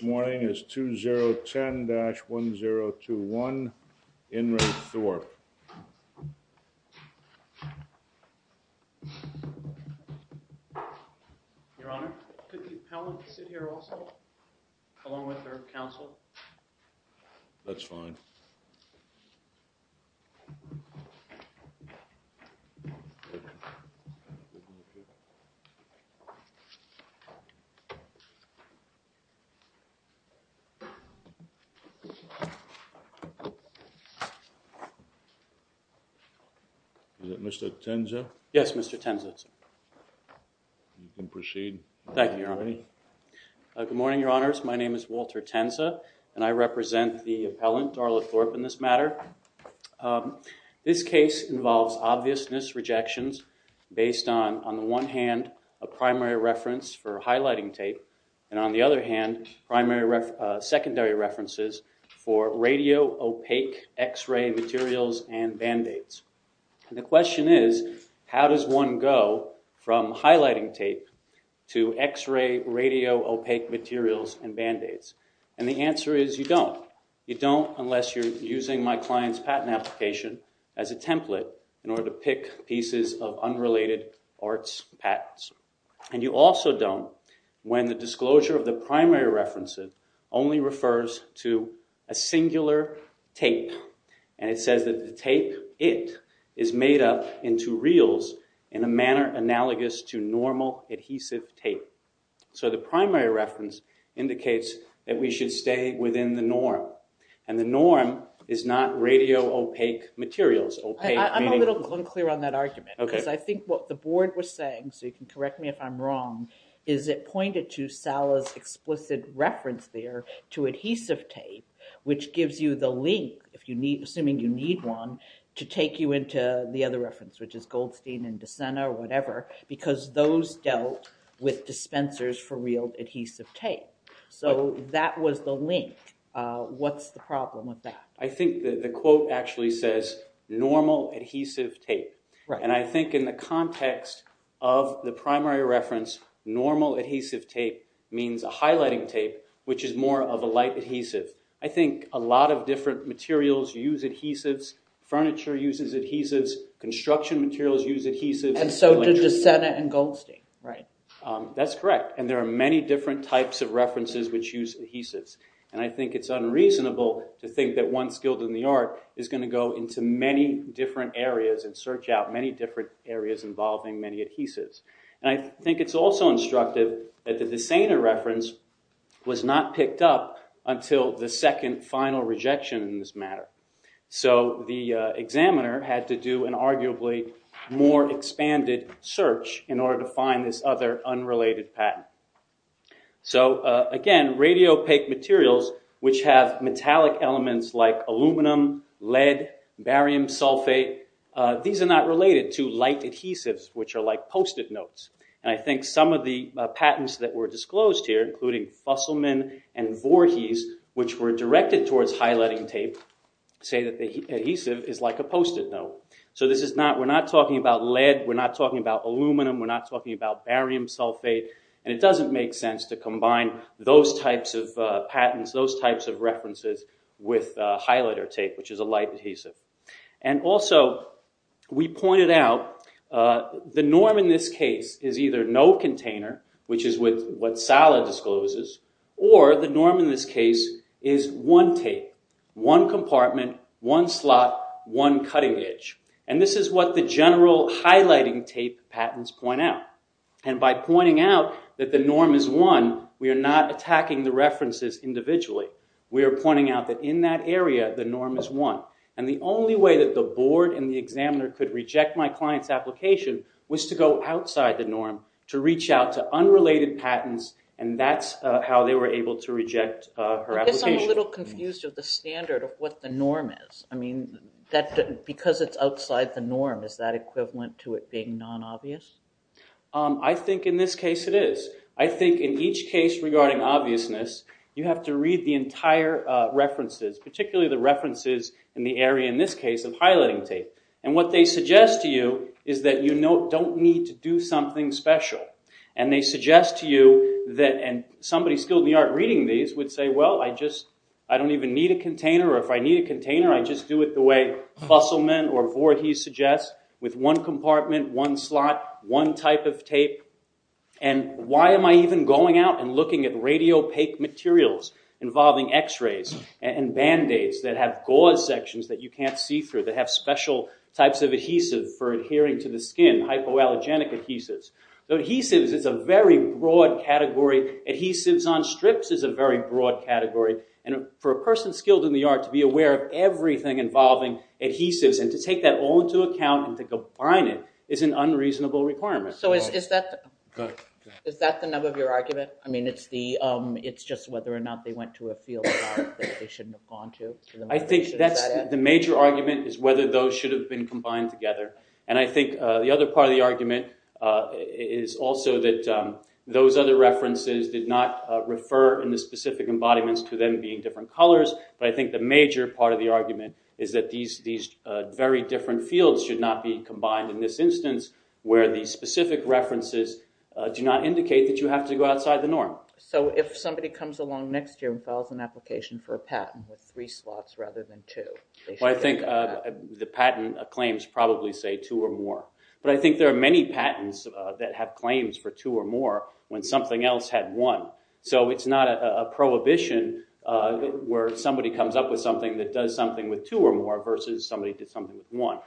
Morning is 2 0 10 dash 1 0 2 1 in Re Thorpe That's fine Is that Mr. Tenza? Yes, Mr. Tenza. You can proceed. Thank you, Your Honor. Good morning, Your Honors. My name is Walter Tenza, and I represent the appellant, Darla Thorpe, in this matter. This case involves obviousness rejections based on, on the one hand, a primary reference for highlighting tape, and on the other hand, secondary references for radio-opaque x-ray materials and band-aids. And the question is, how does one go from highlighting tape to x-ray, radio-opaque materials and band-aids? And the answer is, you don't. You don't unless you're using my client's patent application as a template in order to pick pieces of unrelated arts patents. And you also don't when the disclosure of the primary references only refers to a singular tape. And it says that the tape, it, is made up into reels in a manner analogous to normal adhesive tape. So the primary reference indicates that we should stay within the norm. And the norm is not radio-opaque materials. I'm a little unclear on that argument, because I think what the board was saying, so you can correct me if I'm wrong, is it pointed to Sala's explicit reference there to adhesive tape, which gives you the link, if you need, assuming you need one, to take you into the other reference, which is Goldstein and DeSena or whatever, because those dealt with dispensers for real adhesive tape. So that was the link. What's the problem with that? I think the quote actually says, normal adhesive tape. And I think in the context of the primary reference, normal adhesive tape means a highlighting tape, which is more of a light adhesive. I think a lot of different materials use adhesives. Furniture uses adhesives. Construction materials use adhesives. And so did DeSena and Goldstein, right? That's correct. And there are many different types of references which use adhesives. And I think it's unreasonable to think that one skilled in the art is going to go into many different areas and search out many different areas involving many adhesives. And I think it's also instructive that the DeSena reference was not picked up until the second final rejection in this matter. So the examiner had to do an arguably more expanded search in order to find this other unrelated patent. So again, radiopaque materials, which have metallic elements like aluminum, lead, barium sulfate, these are not related to light adhesives, which are like post-it notes. And I think some of the patents that were disclosed here, including Fusselman and Voorhees, which were directed towards highlighting tape, say that the adhesive is like a post-it note. So we're not talking about lead. We're not talking about aluminum. We're not talking about barium sulfate. And it doesn't make sense to combine those types of patents, those types of references, with highlighter tape, which is a light adhesive. And also, we pointed out the norm in this case is either no container, which is what Sala discloses, or the norm in this case is one tape, one compartment, one slot, one cutting edge. And this is what the general highlighting tape patents point out. And by pointing out that the norm is one, we are not attacking the references individually. We are pointing out that in that area, the norm is one. And the only way that the board and the examiner could reject my client's application was to go outside the norm, to reach out to unrelated patents, and that's how they were able to reject her application. I guess I'm a little confused of the standard of what the norm is. I mean, because it's outside the norm, is that equivalent to it being non-obvious? I think in this case it is. I think in each case regarding obviousness, you have to read the entire references, particularly the references in the area in this case of highlighting tape. And what they suggest to you is that you don't need to do something special. And they suggest to you that, and somebody skilled in the art reading these would say, well, I don't even need a container, or if I need a container, I just do it the way Fusselman or Voorhees suggests, with one compartment, one slot, one type of tape. And why am I even going out and looking at radiopaque materials involving x-rays and band-aids that have gauze sections that you can't see through, that have special types of adhesive for adhering to the skin, hypoallergenic adhesives. So adhesives is a very broad category. Adhesives on strips is a very broad category. And for a person skilled in the art to be aware of everything involving adhesives and to take that all into account and to combine it is an unreasonable requirement. So is that the nub of your argument? I mean, it's just whether or not they went to a field that they shouldn't have gone to. I think the major argument is whether those should have been combined together. And I think the other part of the argument is also that those other references did not refer in the specific embodiments to them being different colors. But I think the major part of the argument is that these very different fields should not be combined in this instance, where the specific references do not indicate that you have to go outside the norm. So if somebody comes along next year and files an application for a patent with three slots rather than two? I think the patent claims probably say two or more. But I think there are many patents that have claims for two or more when something else had one. So it's not a prohibition where somebody comes up with something that does something with two or more versus somebody did something with one.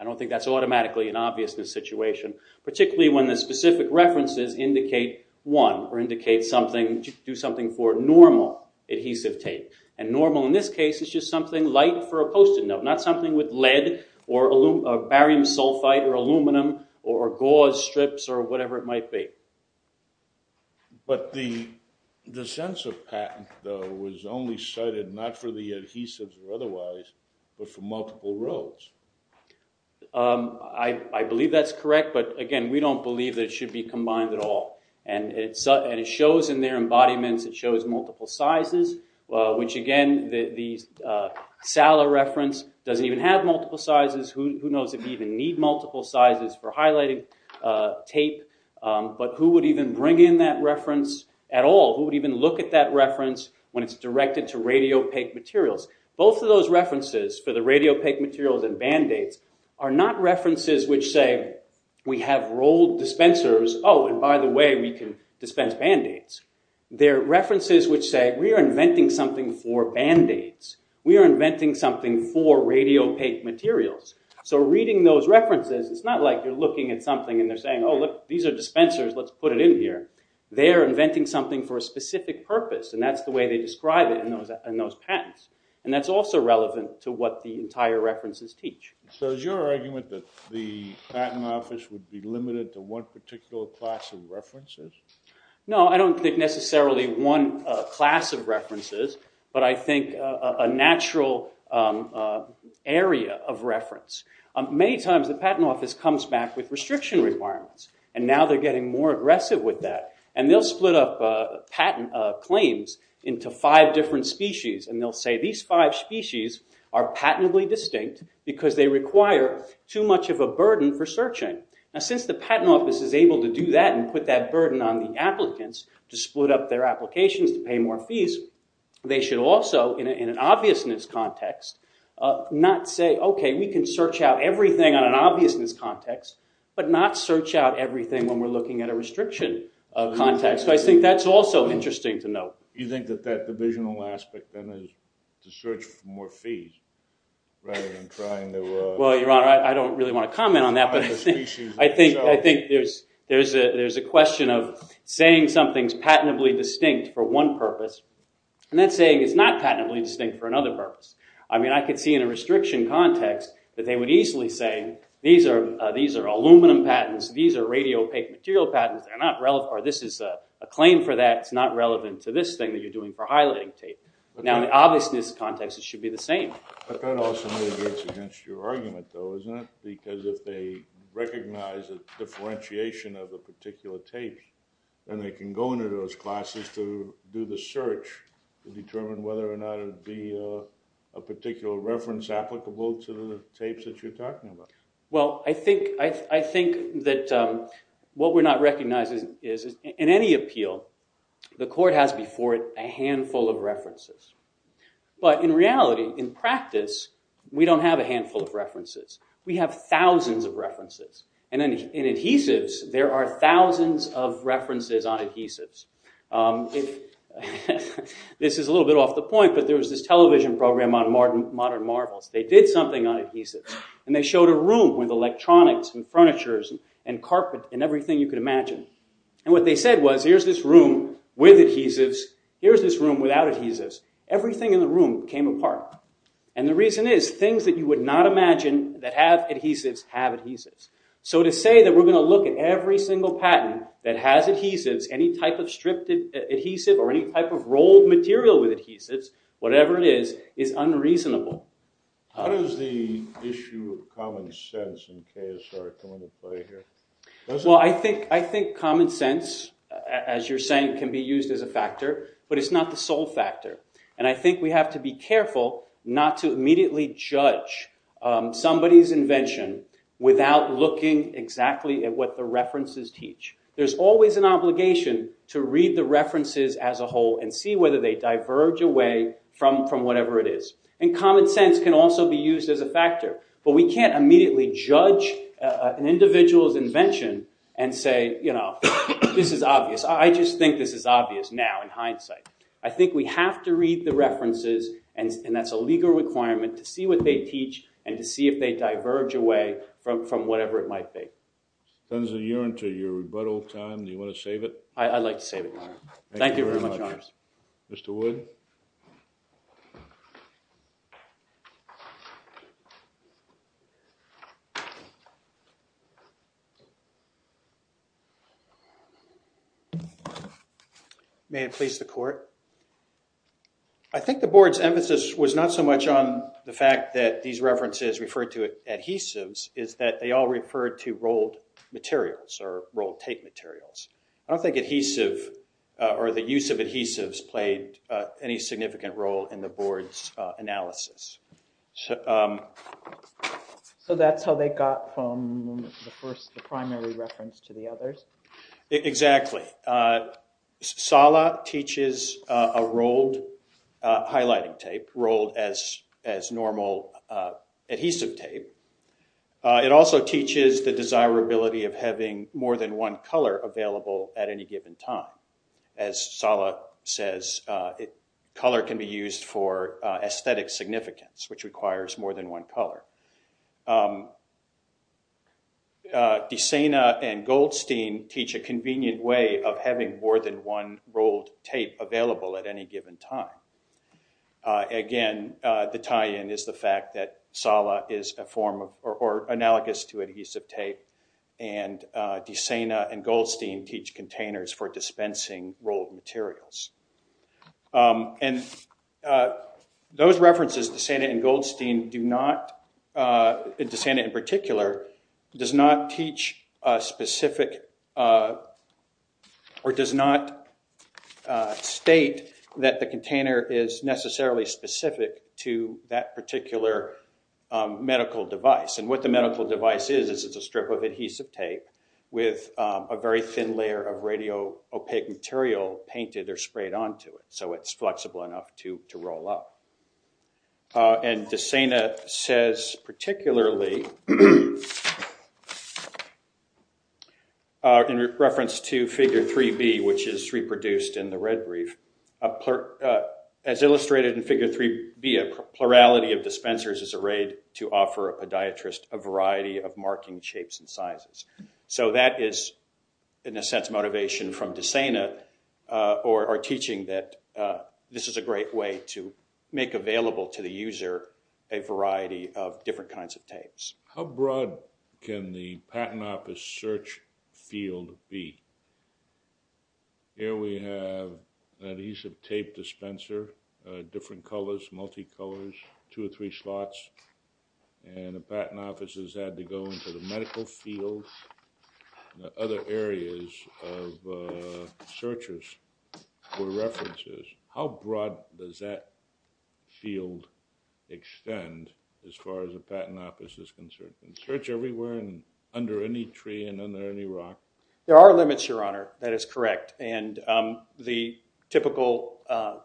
I don't think that's automatically an obviousness situation, particularly when the specific references indicate one or do something for normal adhesive tape. And normal in this case is just something light for a Post-it note, not something with lead or barium sulfite or aluminum or gauze strips or whatever it might be. But the sense of patent, though, was only cited not for the adhesives or otherwise, but for multiple rows. I believe that's correct, but again, we don't believe that it should be combined at all. And it shows in their embodiments, it shows multiple sizes, which again, the Sala reference doesn't even have multiple sizes. Who knows if you even need multiple sizes for highlighting tape? But who would even bring in that reference at all? Who would even look at that reference when it's directed to radiopaque materials? Both of those references for the radiopaque materials and Band-Aids are not references which say we have rolled dispensers. Oh, and by the way, we can dispense Band-Aids. They're references which say we are inventing something for Band-Aids. We are inventing something for radiopaque materials. So reading those references, it's not like you're looking at something and they're saying, oh, look, these are dispensers, let's put it in here. They're inventing something for a specific purpose, and that's the way they describe it in those patents. And that's also relevant to what the entire references teach. So is your argument that the patent office would be limited to one particular class of references? No, I don't think necessarily one class of references, but I think a natural area of reference. Many times the patent office comes back with restriction requirements, and now they're getting more aggressive with that. And they'll split up patent claims into five different species, and they'll say these five species are patently distinct because they require too much of a burden for searching. Now, since the patent office is able to do that and put that burden on the applicants to split up their applications to pay more fees, they should also, in an obviousness context, not say, OK, we can search out everything on an obviousness context, but not search out everything when we're looking at a restriction context. So I think that's also interesting to note. You think that that divisional aspect then is to search for more fees rather than trying to— Well, Your Honor, I don't really want to comment on that, but I think there's a question of saying something's patently distinct for one purpose, and then saying it's not patently distinct for another purpose. I mean, I could see in a restriction context that they would easily say these are aluminum patents, these are radio-opaque material patents, or this is a claim for that, it's not relevant to this thing that you're doing for highlighting tape. Now, in an obviousness context, it should be the same. But that also mitigates against your argument, though, isn't it? Because if they recognize a differentiation of a particular tape, then they can go into those classes to do the search to determine whether or not it would be a particular reference applicable to the tapes that you're talking about. Well, I think that what we're not recognizing is, in any appeal, the court has before it a handful of references. But in reality, in practice, we don't have a handful of references. We have thousands of references. And in adhesives, there are thousands of references on adhesives. This is a little bit off the point, but there was this television program on modern marvels. They did something on adhesives, and they showed a room with electronics and furnitures and carpet and everything you could imagine. And what they said was, here's this room with adhesives. Here's this room without adhesives. Everything in the room came apart. And the reason is, things that you would not imagine that have adhesives have adhesives. So to say that we're going to look at every single patent that has adhesives, any type of stripped adhesive or any type of rolled material with adhesives, whatever it is, is unreasonable. How does the issue of common sense and KSR come into play here? Well, I think common sense, as you're saying, can be used as a factor, but it's not the sole factor. And I think we have to be careful not to immediately judge somebody's invention without looking exactly at what the references teach. There's always an obligation to read the references as a whole and see whether they diverge away from whatever it is. And common sense can also be used as a factor. But we can't immediately judge an individual's invention and say, you know, this is obvious. I just think this is obvious now in hindsight. I think we have to read the references, and that's a legal requirement, to see what they teach and to see if they diverge away from whatever it might be. Spencer, you're into your rebuttal time. Do you want to save it? I'd like to save it. Thank you very much. Mr. Wood? May it please the court? I think the board's emphasis was not so much on the fact that these references referred to adhesives, it's that they all referred to rolled materials or rolled tape materials. I don't think adhesive or the use of adhesives played any significant role in the board's analysis. So that's how they got from the primary reference to the others? Exactly. SALA teaches a rolled highlighting tape, rolled as normal adhesive tape. It also teaches the desirability of having more than one color available at any given time. As SALA says, color can be used for aesthetic significance, which requires more than one color. De Sena and Goldstein teach a convenient way of having more than one rolled tape available at any given time. Again, the tie-in is the fact that SALA is analogous to adhesive tape, and De Sena and Goldstein teach containers for dispensing rolled materials. And those references, De Sena and Goldstein in particular, does not state that the container is necessarily specific to that particular medical device. And what the medical device is, is it's a strip of adhesive tape with a very thin layer of radio-opaque material painted or sprayed onto it, so it's flexible enough to roll up. And De Sena says particularly, in reference to Figure 3B, which is reproduced in the Red Reef, as illustrated in Figure 3B, a plurality of dispensers is arrayed to offer a podiatrist a variety of marking shapes and sizes. So that is, in a sense, motivation from De Sena, or teaching that this is a great way to make available to the user a variety of different kinds of tapes. How broad can the patent office search field be? Here we have an adhesive tape dispenser, different colors, multi-colors, two or three slots, and a patent office has had to go into the medical field and other areas of searches for references. How broad does that field extend as far as the patent office is concerned? Can it search everywhere and under any tree and under any rock? There are limits, Your Honor. That is correct. And the typical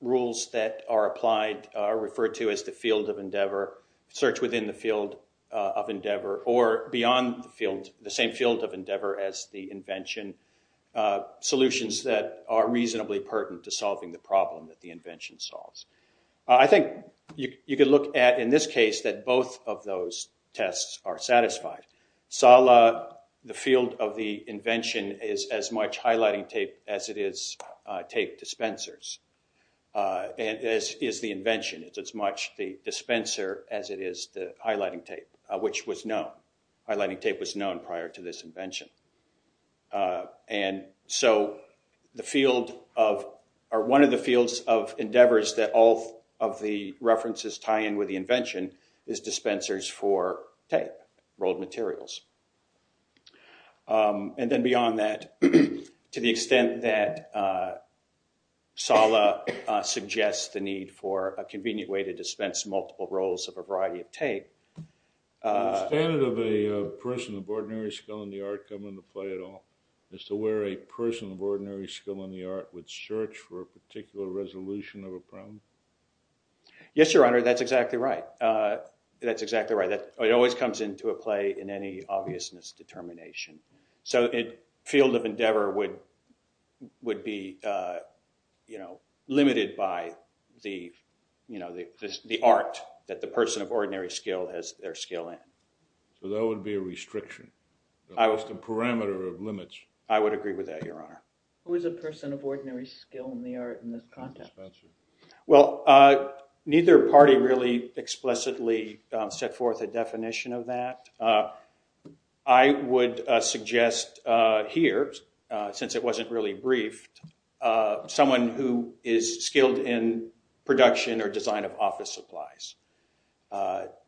rules that are applied are referred to as the field of endeavor, search within the field of endeavor, or beyond the same field of endeavor as the invention, solutions that are reasonably pertinent to solving the problem that the invention solves. I think you could look at, in this case, that both of those tests are satisfied. Sala, the field of the invention, is as much highlighting tape as it is tape dispensers. And as is the invention, it's as much the dispenser as it is the highlighting tape, which was known. Highlighting tape was known prior to this invention. And so one of the fields of endeavors that all of the references tie in with the invention is dispensers for tape, rolled materials. And then beyond that, to the extent that Sala suggests the need for a convenient way to dispense multiple rolls of a variety of tape. Would the standard of a person of ordinary skill in the art come into play at all as to where a person of ordinary skill in the art would search for a particular resolution of a problem? Yes, Your Honor. That's exactly right. It always comes into a play in any obviousness determination. So a field of endeavor would be limited by the art that the person of ordinary skill has their skill in. So that would be a restriction. I would agree with that, Your Honor. Who is a person of ordinary skill in the art in this context? Well, neither party really explicitly set forth a definition of that. I would suggest here, since it wasn't really briefed, someone who is skilled in production or design of office supplies.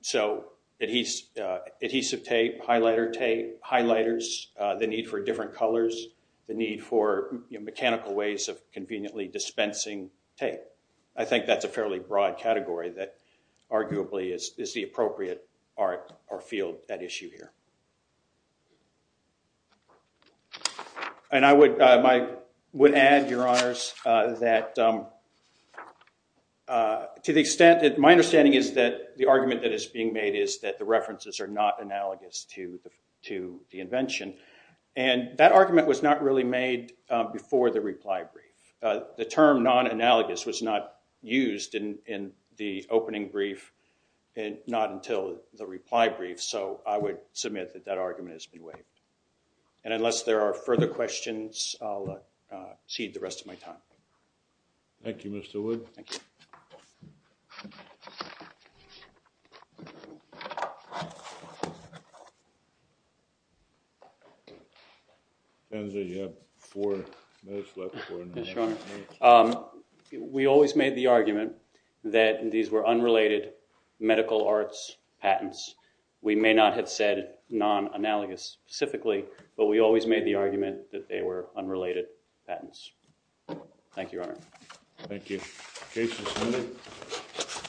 So adhesive tape, highlighter tape, highlighters, the need for different colors, the need for mechanical ways of conveniently dispensing tape. I think that's a fairly broad category that arguably is the appropriate art or field at issue here. And I would add, Your Honors, that to the extent that my understanding is that the argument that is being made is that the references are not analogous to the invention. And that argument was not really made before the reply brief. The term non-analogous was not used in the opening brief and not until the reply brief. So I would submit that that argument has been waived. And unless there are further questions, I'll cede the rest of my time. Thank you, Mr. Wood. Thank you. Senator, you have four minutes left. Yes, Your Honor. We always made the argument that these were unrelated medical arts patents. We may not have said non-analogous specifically, but we always made the argument that they were unrelated patents. Thank you, Your Honor. Thank you. Case is moved.